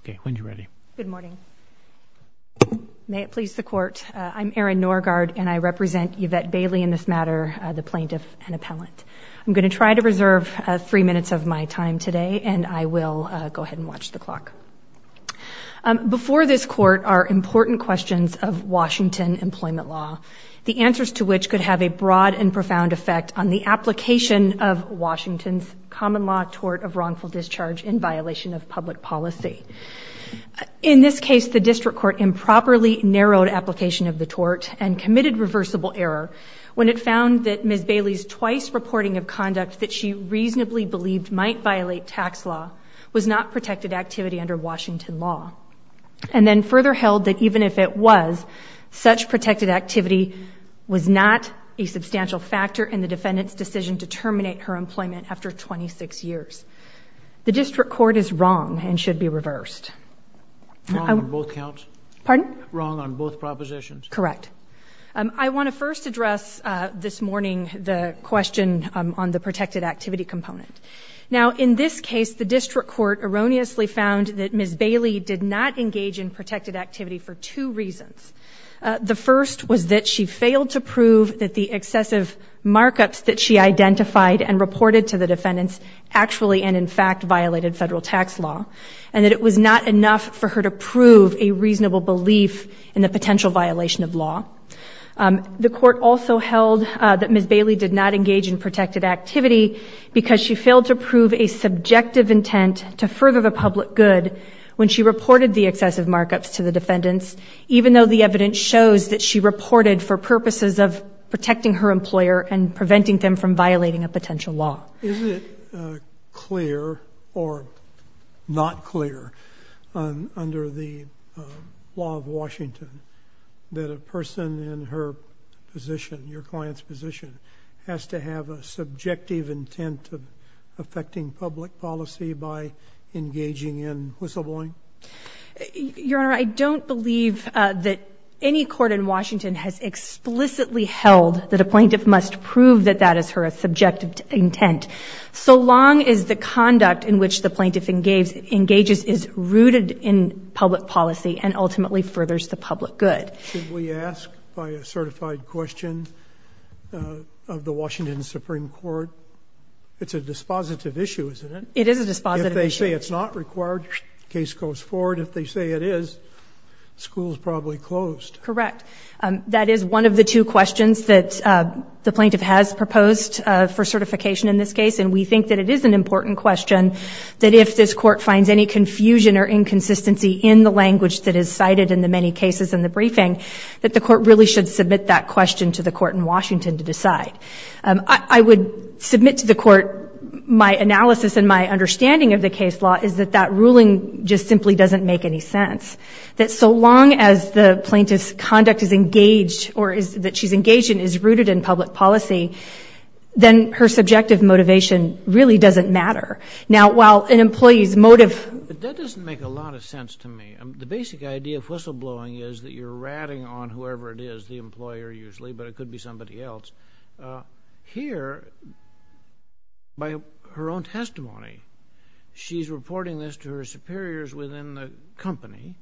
Okay, when you're ready. Good morning. May it please the court, I'm Erin Norgaard and I represent Yvette Bailey in this matter, the plaintiff and appellant. I'm going to try to reserve three minutes of my time today and I will go ahead and watch the clock. Before this court are important questions of Washington employment law, the answers to which could have a broad and profound effect on the application of Washington's common law tort of wrongful discharge in violation of public policy. In this case, the district court improperly narrowed application of the tort and committed reversible error when it found that Ms. Bailey's twice reporting of conduct that she reasonably believed might violate tax law was not protected activity under Washington law. And then further held that even if it was, such protected activity was not a substantial factor in the defendant's decision to terminate her employment after 26 years. The district court is wrong and should be reversed. Wrong on both counts? Pardon? Wrong on both propositions? Correct. I want to first address this morning the question on the protected activity component. Now in this case, the district court erroneously found that Ms. Bailey did not engage in protected activity for two reasons. The first was that she failed to identify and reported to the defendants actually and in fact violated federal tax law. And that it was not enough for her to prove a reasonable belief in the potential violation of law. The court also held that Ms. Bailey did not engage in protected activity because she failed to prove a subjective intent to further the public good when she reported the excessive markups to the defendants, even though the evidence shows that she reported for purposes of protecting her and not violating a potential law. Is it clear or not clear under the law of Washington that a person in her position, your client's position, has to have a subjective intent of affecting public policy by engaging in whistleblowing? Your Honor, I don't believe that any court in Washington has explicitly held that a plaintiff must prove that that is her subjective intent. So long as the conduct in which the plaintiff engages is rooted in public policy and ultimately furthers the public good. Should we ask by a certified question of the Washington Supreme Court, it's a dispositive issue, isn't it? It is a dispositive issue. If they say it's not required, case goes forward. If they say it is, school's probably closed. Correct. That is one of the two questions that the plaintiff has proposed. For certification in this case, and we think that it is an important question, that if this court finds any confusion or inconsistency in the language that is cited in the many cases in the briefing, that the court really should submit that question to the court in Washington to decide. I would submit to the court my analysis and my understanding of the case law is that that ruling just simply doesn't make any sense. That so long as the plaintiff's conduct is engaged or is that she's engaged in is rooted in public policy, then there's no question that the court should submit that question to the court in Washington to decide whether or not that is her subjective intent or whether or not that is her subjective intent. Then her subjective motivation really doesn't matter. Now, while an employee's motive... But that doesn't make a lot of sense to me. The basic idea of whistleblowing is that you're ratting on whoever it is, the employer usually, but it could be somebody else. Here, by her own testimony, she's reporting this to her superiors within the company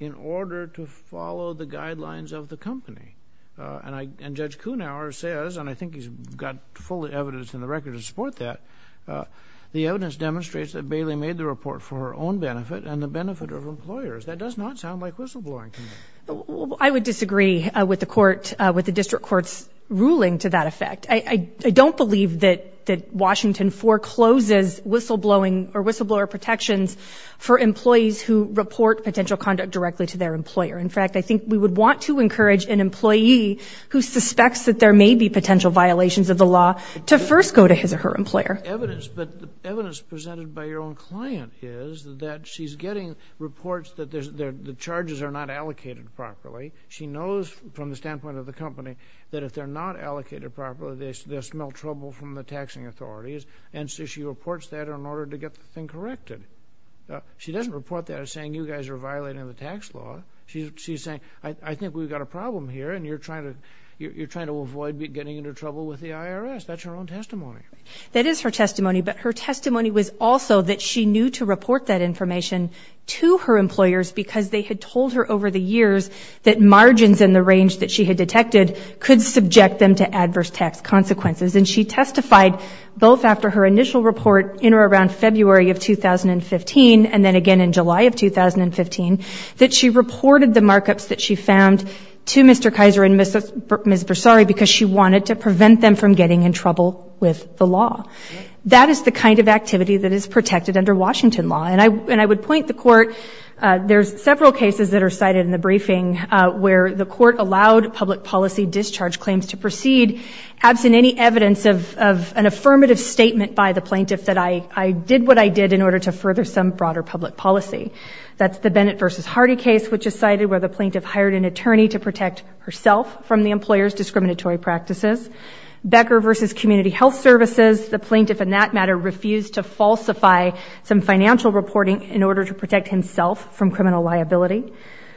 in order to follow the guidelines of the company. And Judge Kuhnhauer says, and I think he's got full evidence in the record to support that, the evidence demonstrates that Bailey made the report for her own benefit and the benefit of employers. That does not sound like whistleblowing to me. I would disagree with the court, with the district court's ruling to that effect. I don't believe that Washington forecloses whistleblowing or whistleblower protections for employees who report potential conduct directly to their employer. In fact, I think we would want to encourage an employee who suspects that there may be potential violations of the law to first go to his or her employer. But the evidence presented by your own client is that she's getting reports that the charges are not allocated properly. She knows from the standpoint of the company that if they're not allocated properly, they'll smell trouble from the taxing authorities, and so she reports that in order to get the thing corrected. She doesn't report that as saying, you guys are violating the tax law. She's saying, I think we've got a problem here, and you're trying to avoid getting into trouble with the IRS. That's her own testimony. That is her testimony, but her testimony was also that she knew to report that information to her employers because they had told her over the years that margins in the range that she had detected could subject them to adverse tax consequences. And she testified both after her initial report in or around February of 2015, and then again in July of 2015, that she reported the markups that she found to Mr. Kaiser and Ms. Bersari because she wanted to prevent them from getting in trouble with the law. Absent any evidence of an affirmative statement by the plaintiff that I did what I did in order to further some broader public policy. That's the Bennett v. Hardy case, which is cited where the plaintiff hired an attorney to protect herself from the employer's discriminatory practices. Becker v. Community Health Services, the plaintiff in that matter refused to falsify some financial reporting in order to protect himself from criminal liability.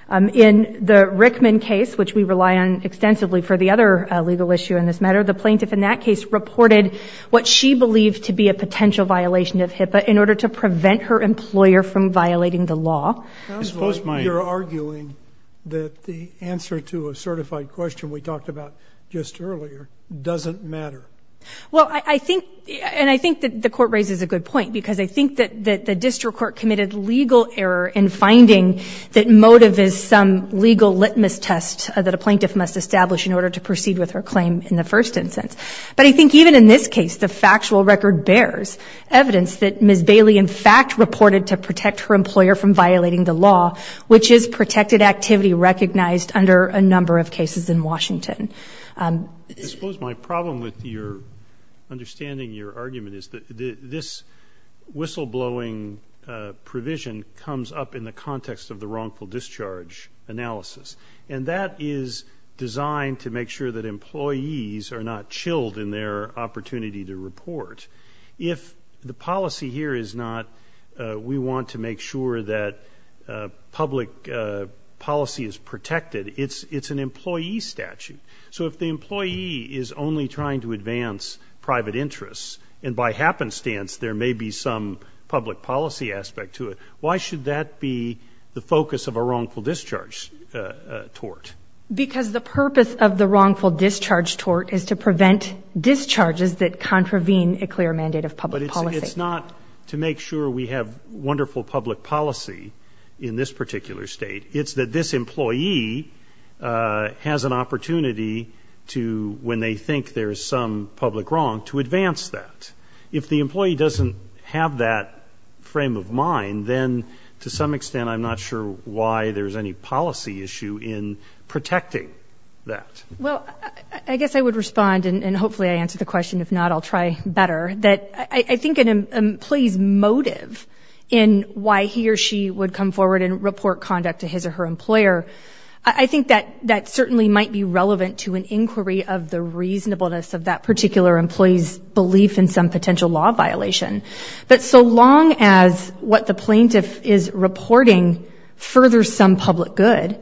In the Rickman case, which we rely on extensively for the other legal issue in this matter, the plaintiff in that case reported what she believed to be a potential violation of HIPAA in order to prevent her employer from violating the law. You're arguing that the answer to a certified question we talked about just earlier doesn't matter. Well, I think and I think that the court raises a good point because I think that the district court committed legal error in finding that motive is some legal litmus test that a plaintiff must establish in order to proceed with her claim in the first instance. But I think even in this case, the factual record bears evidence that Ms. Bailey in fact reported to protect her employer from violating the law, which is protected activity recognized under a number of cases in Washington. I suppose my problem with your understanding your argument is that this whistleblowing provision comes up in the context of the wrongful discharge analysis. And that is designed to make sure that employees are not chilled in their opportunity to report. If the policy here is not we want to make sure that public policy is protected, it's an employee statute. So if the employee is only trying to advance private interests and by happenstance there may be some public policy aspect to it, why should that be the focus of a wrongful discharge tort? Because the purpose of the wrongful discharge tort is to prevent discharges that contravene a clear mandate of public policy. But it's not to make sure we have wonderful public policy in this particular state. It's that this employee has an opportunity to when they think there is some public wrong to advance that. If the employee doesn't have that frame of mind, then to some extent I'm not sure why there's any policy issue in protecting that. Well, I guess I would respond and hopefully I answer the question. If not, I'll try better. That I think an employee's motive in why he or she would come forward and report conduct to his or her employer, I think that certainly might be relevant to an inquiry of the reasonableness of that particular employee's belief in something. But so long as what the plaintiff is reporting furthers some public good,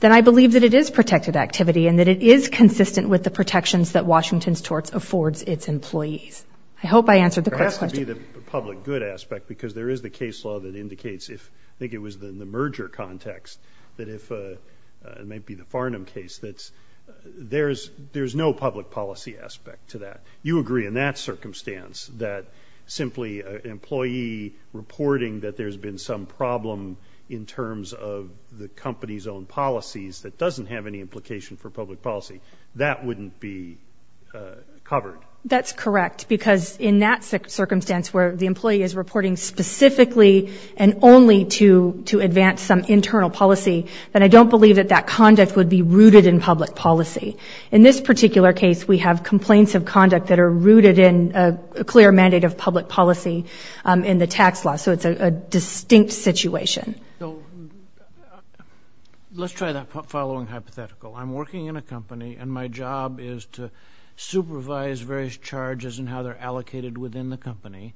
then I believe that it is protected activity and that it is consistent with the protections that Washington's torts affords its employees. I hope I answered the question. It has to be the public good aspect because there is the case law that indicates if, I think it was in the merger context, that if, it might be the Farnham case, that there's no public policy aspect to that. You agree in that circumstance that simply an employee reporting that there's been some problem in terms of the company's own policies that doesn't have any implication for public policy, that wouldn't be covered? That's correct because in that circumstance where the employee is reporting specifically and only to advance some internal policy, then I don't believe that that conduct would be rooted in public policy. In this particular case, we have complaints of conduct that are rooted in a clear mandate of public policy in the tax law. So it's a distinct situation. Let's try that following hypothetical. I'm working in a company and my job is to supervise various charges and how they're allocated within the company.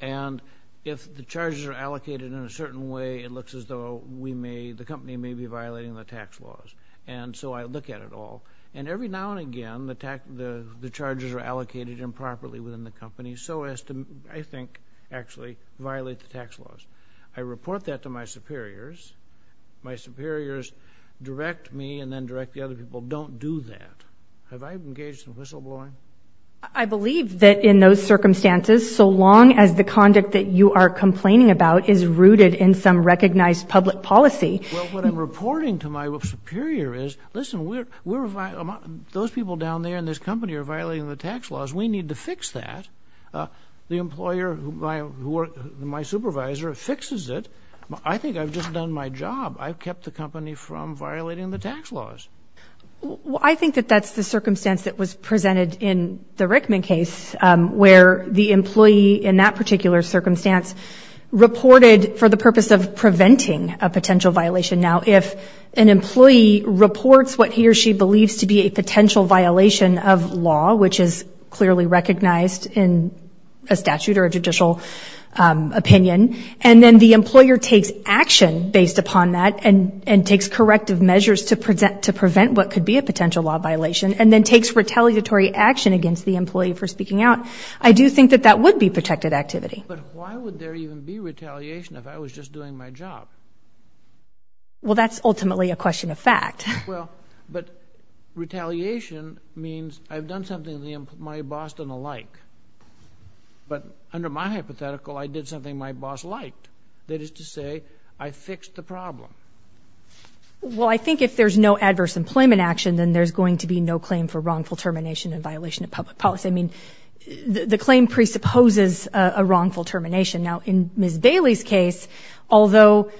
And if the charges are allocated in a certain way, it looks as though the company may be violating the tax laws. And so I look at it all. And every now and again, the charges are allocated improperly within the company so as to, I think, actually violate the tax laws. I report that to my superiors. My superiors direct me and then direct the other people, don't do that. Have I engaged in whistleblowing? I believe that in those circumstances, so long as the conduct that you are complaining about is rooted in some recognized public policy. Well, what I'm reporting to my superior is, listen, those people down there in this company are violating the tax laws. We need to fix that. The employer, my supervisor, fixes it. I think I've just done my job. I've kept the company from violating the tax laws. Well, I think that that's the circumstance that was presented in the Rickman case, where the employee in that particular circumstance reported for the purpose of preventing a potential violation. Now, if an employee reports what he or she believes to be a potential violation of law, which is clearly recognized in a statute or a judicial opinion, and then the employer takes action based upon that and takes corrective measures to prevent what could be a potential law violation and then takes retaliatory action against the employee for speaking out, I do think that that would be protected activity. But why would there even be retaliation if I was just doing my job? Well, that's ultimately a question of fact. Well, but retaliation means I've done something to my boss and the like. But under my hypothetical, I did something my boss liked. That is to say, I fixed the problem. Well, I think if there's no adverse employment action, then there's going to be no claim for wrongful termination in violation of public policy. I mean, the claim presupposes a wrongful termination. Now, in Ms. Bailey's case, although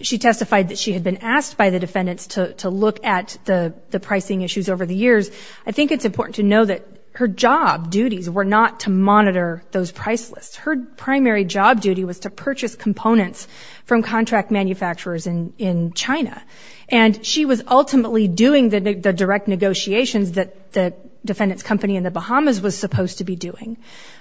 she testified that she had been asked by the defendants to look at the pricing issues over the years, I think it's important to know that her job duties were not to monitor those price lists. Her primary job duty was to purchase components from contract manufacturers in China. And she was ultimately doing the direct negotiations that the defendants' company in the Bahamas was supposed to be doing.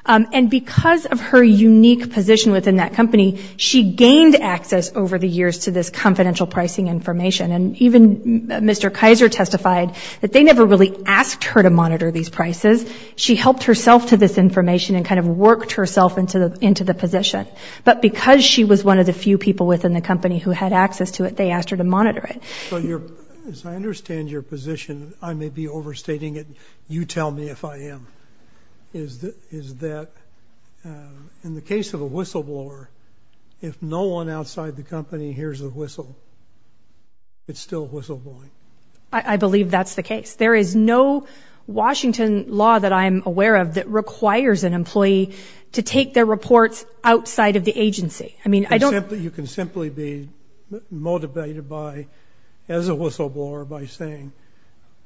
And because of her unique position within that company, she gained access over the years to this confidential pricing information. And even Mr. Kaiser testified that they never really asked her to monitor these prices. She helped herself to this information and kind of worked herself into the position. But because she was one of the few people within the company who had access to it, they asked her to monitor it. So as I understand your position, I may be overstating it. You tell me if I am. is that in the case of a whistleblower, if no one outside the company hears a whistle, it's still whistleblowing. I believe that's the case. There is no Washington law that I am aware of that requires an employee to take their reports outside of the agency. You can simply be motivated by, as a whistleblower, by saying,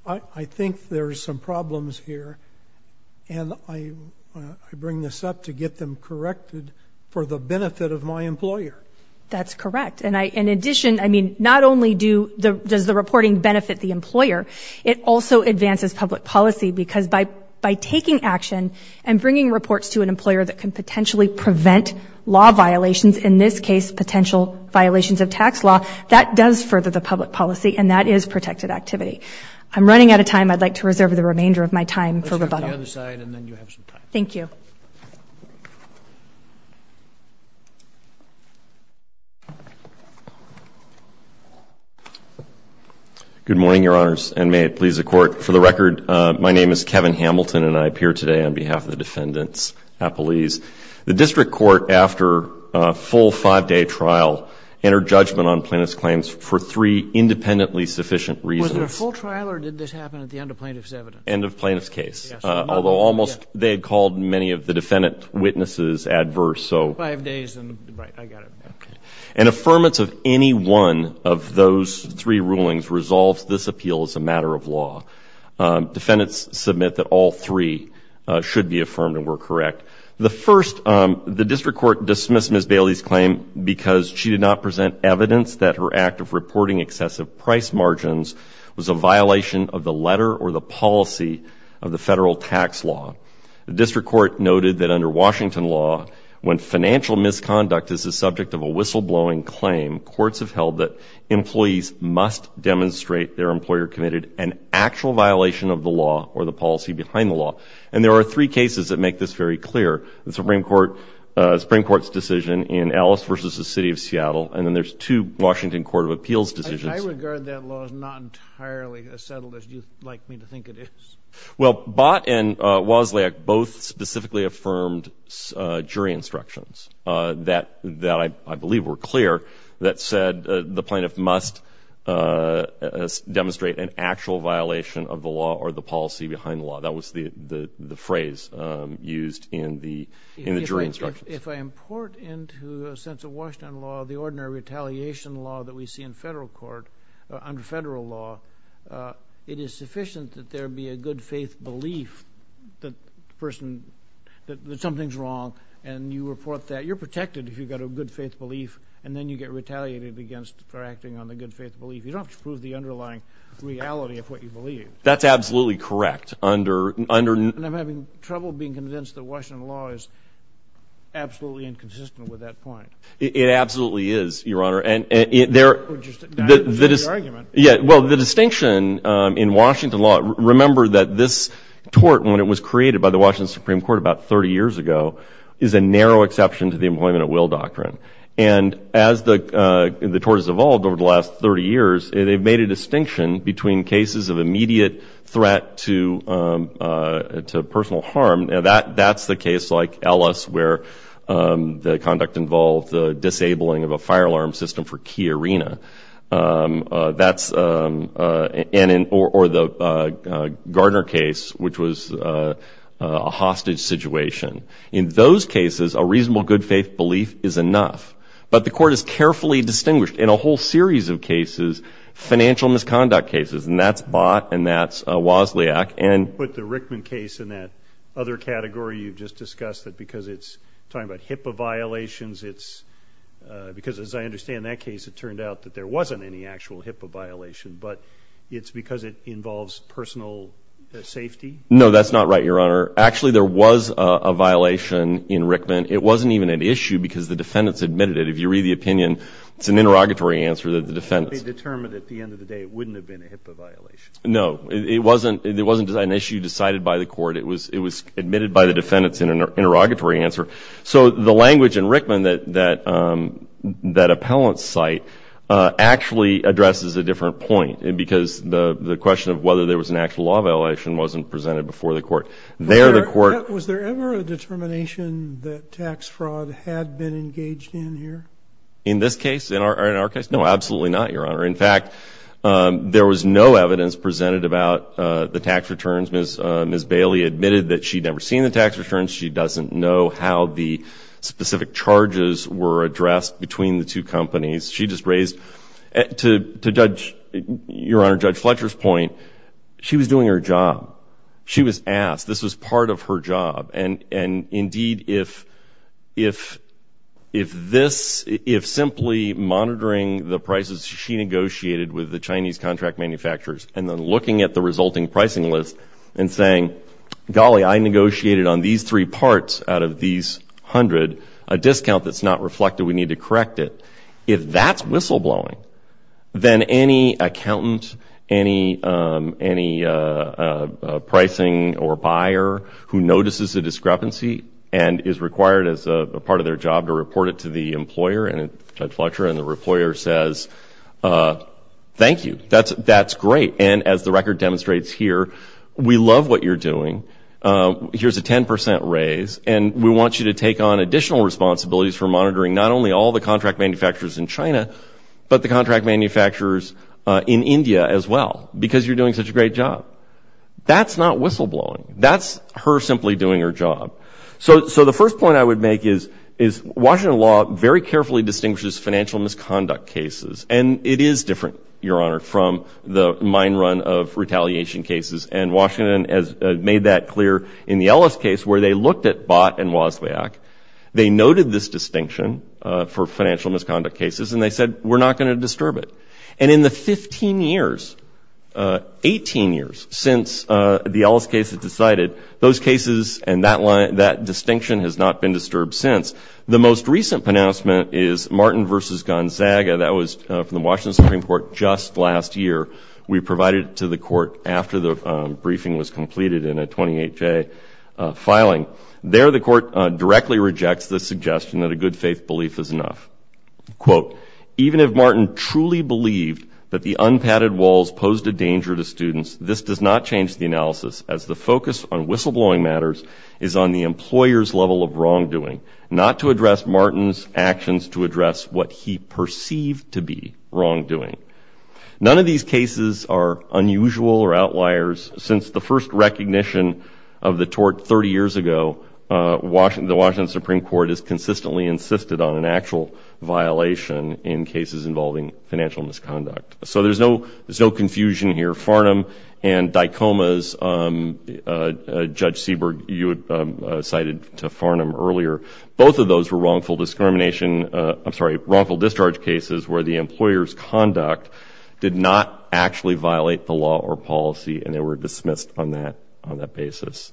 I think there are some problems here, and I bring this up to get them corrected for the benefit of my employer. That's correct. And in addition, I mean, not only does the reporting benefit the employer, it also advances public policy because by taking action and bringing reports to an employer that can potentially prevent law violations, in this case potential violations of tax law, that does further the public policy, and that is protected activity. I'm running out of time. I'd like to reserve the remainder of my time for rebuttal. Let's go to the other side, and then you have some time. Thank you. Good morning, Your Honors, and may it please the Court. For the record, my name is Kevin Hamilton, and I appear today on behalf of the defendants' appellees. The district court, after a full five-day trial, entered judgment on plaintiff's claims for three independently sufficient reasons. Was it a full trial, or did this happen at the end of plaintiff's evidence? End of plaintiff's case. Yes. Although almost, they had called many of the defendant witnesses adverse, so. Five days and, right, I got it. Okay. An affirmance of any one of those three rulings resolves this appeal as a matter of law. Defendants submit that all three should be affirmed and were correct. The first, the district court dismissed Ms. Bailey's claim because she did not present evidence that her act of reporting excessive price margins was a violation of the letter or the policy of the federal tax law. The district court noted that under Washington law, when financial misconduct is the subject of a whistleblowing claim, courts have held that employees must demonstrate their employer committed an actual violation of the law or the policy behind the law. And there are three cases that make this very clear, the Supreme Court's decision in Ellis versus the City of Seattle, and then there's two Washington Court of Appeals decisions. I regard that law as not entirely as settled as you'd like me to think it is. Well, Bott and Wozniak both specifically affirmed jury instructions that I believe were clear that said the plaintiff must demonstrate an actual violation of the law or the policy behind the law. That was the phrase used in the jury instructions. If I import into a sense of Washington law the ordinary retaliation law that we see in federal court, under federal law, it is sufficient that there be a good faith belief that the person, that something's wrong and you report that. You're protected if you've got a good faith belief and then you get retaliated against for acting on the good faith belief. You don't have to prove the underlying reality of what you believe. That's absolutely correct. And I'm having trouble being convinced that Washington law is absolutely inconsistent with that point. It absolutely is, Your Honor. Or just a valid argument. Well, the distinction in Washington law, remember that this tort when it was created by the Washington Supreme Court about 30 years ago is a narrow exception to the employment at will doctrine. And as the tort has evolved over the last 30 years, they've made a distinction between cases of immediate threat to personal harm. Now, that's the case like Ellis where the conduct involved the disabling of a fire alarm system for key arena. That's, or the Gardner case, which was a hostage situation. In those cases, a reasonable good faith belief is enough. But the court has carefully distinguished in a whole series of cases financial misconduct cases, and that's Bott and that's Wozniak. But the Rickman case in that other category you've just discussed, because it's talking about HIPAA violations, it's, because as I understand that case, it turned out that there wasn't any actual HIPAA violation, but it's because it involves personal safety? No, that's not right, Your Honor. Actually, there was a violation in Rickman. It wasn't even an issue because the defendants admitted it. If you read the opinion, it's an interrogatory answer that the defendants. They determined at the end of the day it wouldn't have been a HIPAA violation. No. It wasn't an issue decided by the court. It was admitted by the defendants in an interrogatory answer. So the language in Rickman that appellants cite actually addresses a different point, because the question of whether there was an actual law violation wasn't presented before the court. Was there ever a determination that tax fraud had been engaged in here? In this case? In our case? No, absolutely not, Your Honor. In fact, there was no evidence presented about the tax returns. Ms. Bailey admitted that she'd never seen the tax returns. She doesn't know how the specific charges were addressed between the two companies. She just raised, to Judge, Your Honor, Judge Fletcher's point, she was doing her job. She was asked. This was part of her job. And, indeed, if this, if simply monitoring the prices she negotiated with the Chinese contract manufacturers and then looking at the resulting pricing list and saying, golly, I negotiated on these three parts out of these hundred a discount that's not reflected. We need to correct it. If that's whistleblowing, then any accountant, any pricing or buyer who notices a discrepancy and is required as part of their job to report it to the employer and Judge Fletcher and the employer says, thank you. That's great. And as the record demonstrates here, we love what you're doing. Here's a 10 percent raise. And we want you to take on additional responsibilities for monitoring not only all the contract manufacturers in China, but the contract manufacturers in India as well because you're doing such a great job. That's not whistleblowing. That's her simply doing her job. So the first point I would make is Washington law very carefully distinguishes financial misconduct cases. And it is different, Your Honor, from the mine run of retaliation cases. And Washington has made that clear in the Ellis case where they looked at Bott and Wozniak. They noted this distinction for financial misconduct cases and they said, we're not going to disturb it. And in the 15 years, 18 years since the Ellis case, it decided those cases and that distinction has not been disturbed since. The most recent pronouncement is Martin v. Gonzaga. That was from the Washington Supreme Court just last year. We provided it to the court after the briefing was completed in a 28-J filing. There the court directly rejects the suggestion that a good faith belief is enough. Quote, even if Martin truly believed that the unpadded walls posed a danger to students, this does not change the analysis as the focus on whistleblowing matters is on the employer's level of wrongdoing, not to address Martin's actions to address what he perceived to be wrongdoing. None of these cases are unusual or outliers. Since the first recognition of the tort 30 years ago, the Washington Supreme Court has consistently insisted on an actual violation in cases involving financial misconduct. So there's no confusion here. Farnham and Dicoma's, Judge Seberg, you cited to Farnham earlier, both of those were wrongful discrimination. I'm sorry, wrongful discharge cases where the employer's conduct did not actually violate the law or policy, and they were dismissed on that basis.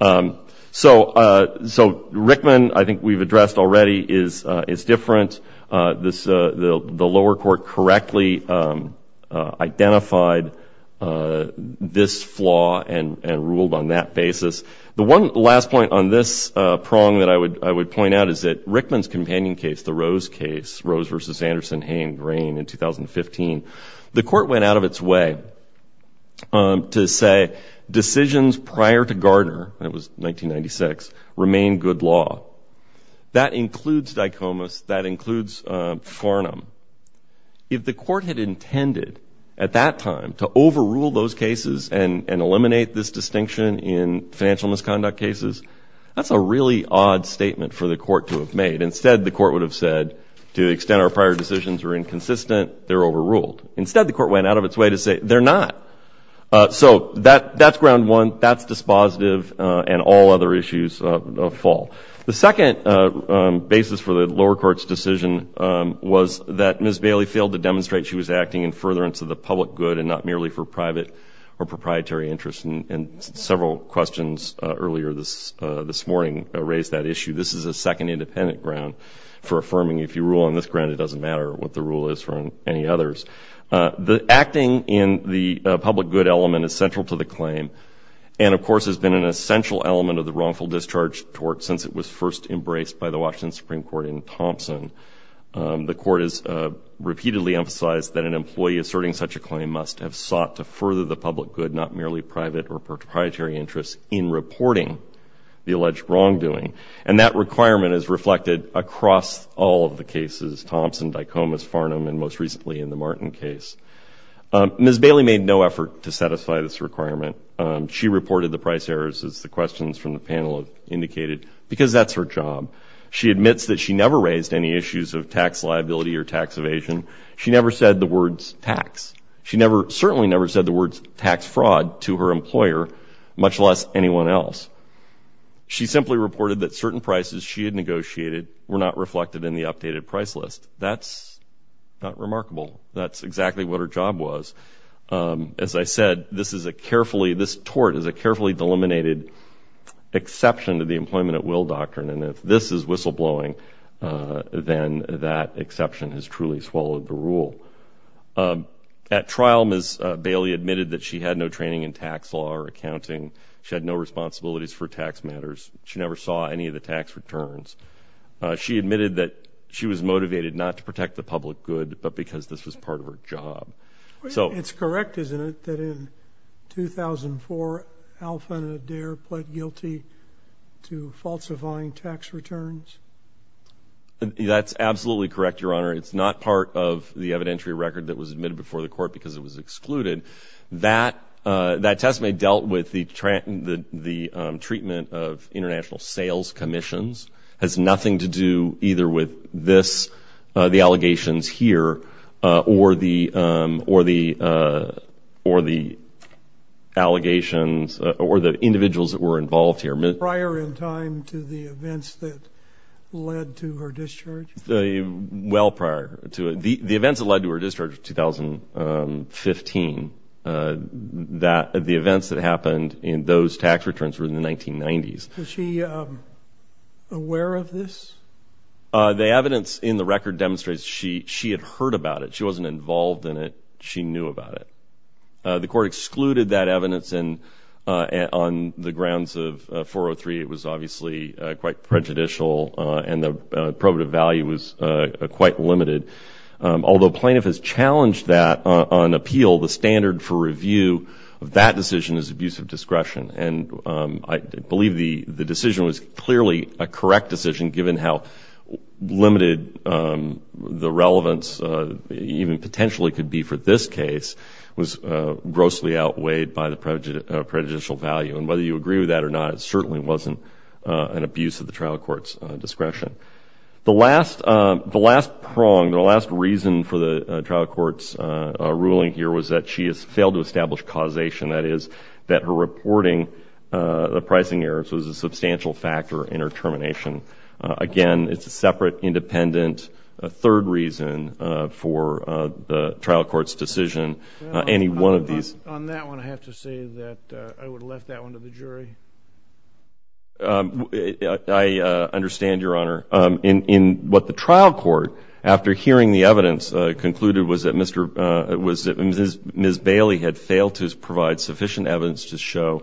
So Rickman, I think we've addressed already, is different. The lower court correctly identified this flaw and ruled on that basis. The one last point on this prong that I would point out is that Rickman's companion case, the Rose case, Rose v. Anderson, Hayne, Grain in 2015, the court went out of its way to say decisions prior to Gardner, that was 1996, remain good law. That includes Dicoma's. That includes Farnham. If the court had intended at that time to overrule those cases and eliminate this distinction in financial misconduct cases, that's a really odd statement for the court to have made. Instead, the court would have said, to the extent our prior decisions were inconsistent, they're overruled. Instead, the court went out of its way to say they're not. So that's ground one, that's dispositive, and all other issues fall. The second basis for the lower court's decision was that Ms. Bailey failed to demonstrate she was acting in furtherance of the public good and not merely for private or proprietary interest, and several questions earlier this morning raised that issue. This is a second independent ground for affirming if you rule on this ground, it doesn't matter what the rule is for any others. The acting in the public good element is central to the claim, and, of course, has been an essential element of the wrongful discharge tort since it was first embraced by the Washington Supreme Court in Thompson. The court has repeatedly emphasized that an employee asserting such a claim must have sought to further the public good, not merely private or proprietary interest, in reporting the alleged wrongdoing. And that requirement is reflected across all of the cases, Thompson, Dicoma's, Farnham, and most recently in the Martin case. Ms. Bailey made no effort to satisfy this requirement. She reported the price errors, as the questions from the panel have indicated, because that's her job. She admits that she never raised any issues of tax liability or tax evasion. She never said the words tax. She certainly never said the words tax fraud to her employer, much less anyone else. She simply reported that certain prices she had negotiated were not reflected in the updated price list. That's not remarkable. That's exactly what her job was. As I said, this tort is a carefully delimited exception to the employment at will doctrine, and if this is whistleblowing, then that exception has truly swallowed the rule. At trial, Ms. Bailey admitted that she had no training in tax law or accounting. She had no responsibilities for tax matters. She never saw any of the tax returns. She admitted that she was motivated not to protect the public good, but because this was part of her job. It's correct, isn't it, that in 2004, Alpha and Adair pled guilty to falsifying tax returns? That's absolutely correct, Your Honor. It's not part of the evidentiary record that was admitted before the court because it was excluded. That testimony dealt with the treatment of international sales commissions. It has nothing to do either with this, the allegations here, or the allegations or the individuals that were involved here. Prior in time to the events that led to her discharge? Well prior to it. The events that led to her discharge in 2015, the events that happened in those tax returns were in the 1990s. Was she aware of this? The evidence in the record demonstrates she had heard about it. She wasn't involved in it. She knew about it. The court excluded that evidence on the grounds of 403. It was obviously quite prejudicial, and the probative value was quite limited. Although plaintiff has challenged that on appeal, the standard for review of that decision is abuse of discretion. And I believe the decision was clearly a correct decision, given how limited the relevance even potentially could be for this case was grossly outweighed by the prejudicial value. And whether you agree with that or not, it certainly wasn't an abuse of the trial court's discretion. The last prong, the last reason for the trial court's ruling here was that she has failed to establish causation. That is, that her reporting of pricing errors was a substantial factor in her termination. Again, it's a separate, independent, third reason for the trial court's decision. On that one, I have to say that I would have left that one to the jury. I understand, Your Honor. What the trial court, after hearing the evidence, concluded was that Ms. Bailey had failed to provide sufficient evidence to show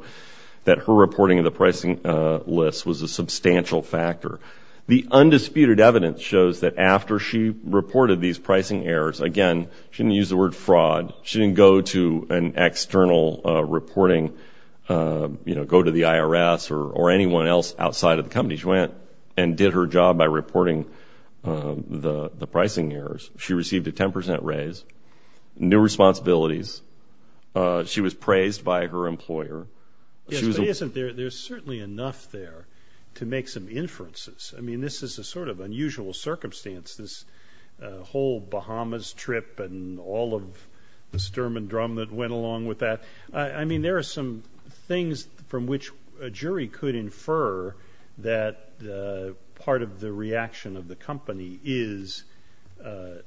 that her reporting of the pricing list was a substantial factor. The undisputed evidence shows that after she reported these pricing errors, again, she didn't use the word fraud. She didn't go to an external reporting, you know, go to the IRS or anyone else outside of the company. She went and did her job by reporting the pricing errors. She received a 10 percent raise, new responsibilities. She was praised by her employer. Yes, but isn't there certainly enough there to make some inferences? I mean, this is a sort of unusual circumstance. This whole Bahamas trip and all of the Sturm and Drum that went along with that. I mean, there are some things from which a jury could infer that part of the reaction of the company is the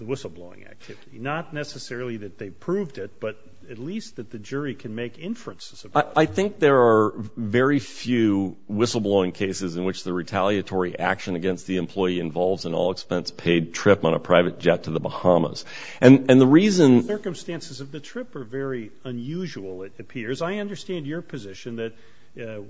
whistleblowing activity. Not necessarily that they proved it, but at least that the jury can make inferences about it. I think there are very few whistleblowing cases in which the retaliatory action against the employee involves an all-expense paid trip on a private jet to the Bahamas. And the reason- The circumstances of the trip are very unusual, it appears. I understand your position that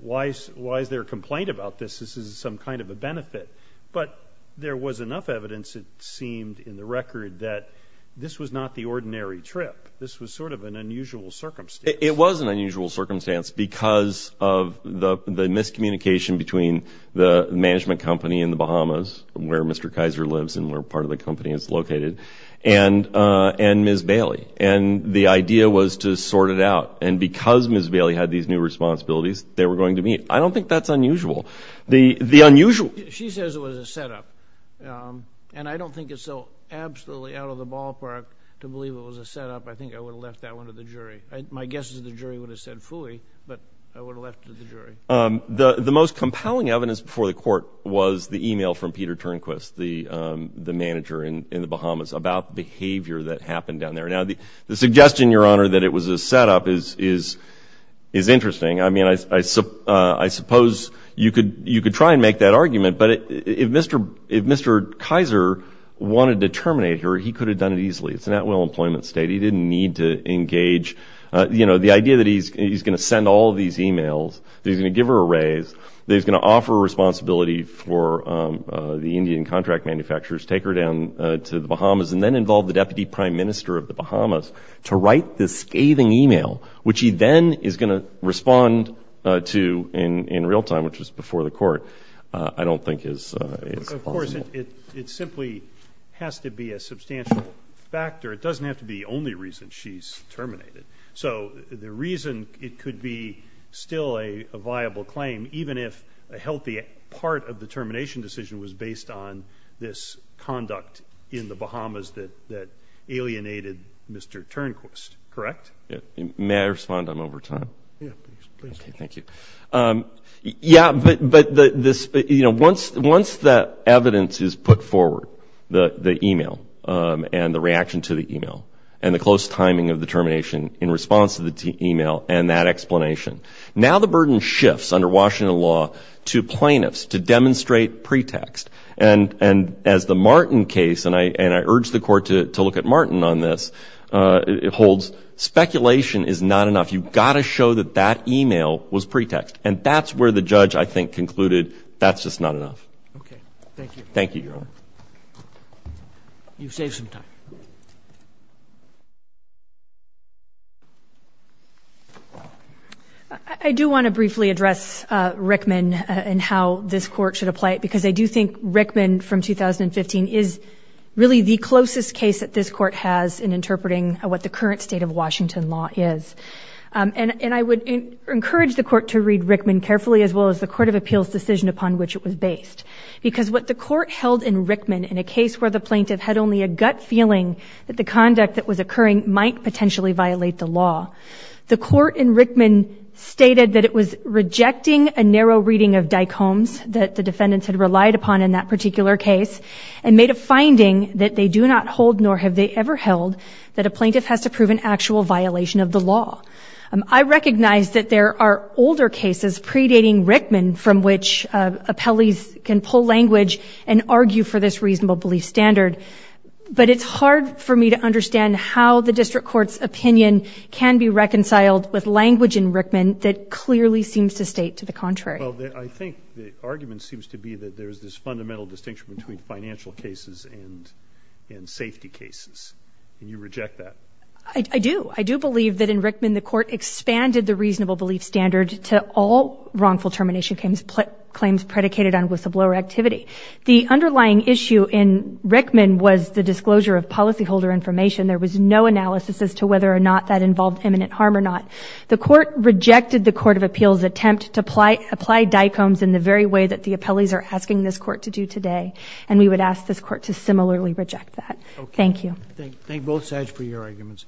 why is there a complaint about this? This is some kind of a benefit. But there was enough evidence, it seemed, in the record that this was not the ordinary trip. This was sort of an unusual circumstance. It was an unusual circumstance because of the miscommunication between the management company in the Bahamas, where Mr. Kaiser lives and where part of the company is located, and Ms. Bailey. And the idea was to sort it out. And because Ms. Bailey had these new responsibilities, they were going to meet. I don't think that's unusual. The unusual- She says it was a setup. And I don't think it's so absolutely out of the ballpark to believe it was a setup. I think I would have left that one to the jury. My guess is the jury would have said fully, but I would have left it to the jury. The most compelling evidence before the court was the e-mail from Peter Turnquist, the manager in the Bahamas, about behavior that happened down there. Now, the suggestion, Your Honor, that it was a setup is interesting. I mean, I suppose you could try and make that argument, but if Mr. Kaiser wanted to terminate her, he could have done it easily. It's an at-will employment state. He didn't need to engage. You know, the idea that he's going to send all of these e-mails, that he's going to give her a raise, that he's going to offer responsibility for the Indian contract manufacturers, take her down to the Bahamas, and then involve the deputy prime minister of the Bahamas to write this scathing e-mail, which he then is going to respond to in real time, which was before the court, I don't think is possible. Of course, it simply has to be a substantial factor. It doesn't have to be the only reason she's terminated. So the reason it could be still a viable claim, even if a healthy part of the termination decision was based on this conduct in the Bahamas that alienated Mr. Turnquist, correct? May I respond? I'm over time. Yes, please. Okay, thank you. Yeah, but this, you know, once that evidence is put forward, the e-mail and the reaction to the e-mail, and the close timing of the termination in response to the e-mail and that explanation, now the burden shifts under Washington law to plaintiffs to demonstrate pretext. And as the Martin case, and I urge the court to look at Martin on this, it holds speculation is not enough. You've got to show that that e-mail was pretext. And that's where the judge, I think, concluded that's just not enough. Okay, thank you. Thank you, Your Honor. You've saved some time. I do want to briefly address Rickman and how this court should apply it, because I do think Rickman from 2015 is really the closest case that this court has in interpreting what the current state of Washington law is. And I would encourage the court to read Rickman carefully, as well as the Court of Appeals decision upon which it was based. Because what the court held in Rickman, in a case where the plaintiff had only a gut feeling that the conduct that was occurring might potentially violate the law, the court in Rickman stated that it was rejecting a narrow reading of dycomes that the defendants had relied upon in that particular case, and made a finding that they do not hold, nor have they ever held, that a plaintiff has to prove an actual violation of the law. I recognize that there are older cases predating Rickman from which appellees can pull language and argue for this reasonable belief standard. But it's hard for me to understand how the district court's opinion can be reconciled with language in Rickman that clearly seems to state to the contrary. Well, I think the argument seems to be that there's this fundamental distinction between financial cases and safety cases, and you reject that. I do. I do believe that in Rickman the court expanded the reasonable belief standard to all wrongful termination claims predicated on whistleblower activity. The underlying issue in Rickman was the disclosure of policyholder information. There was no analysis as to whether or not that involved imminent harm or not. The court rejected the court of appeals' attempt to apply dicomes in the very way that the appellees are asking this court to do today, and we would ask this court to similarly reject that. Thank you. Thank both sides for your arguments.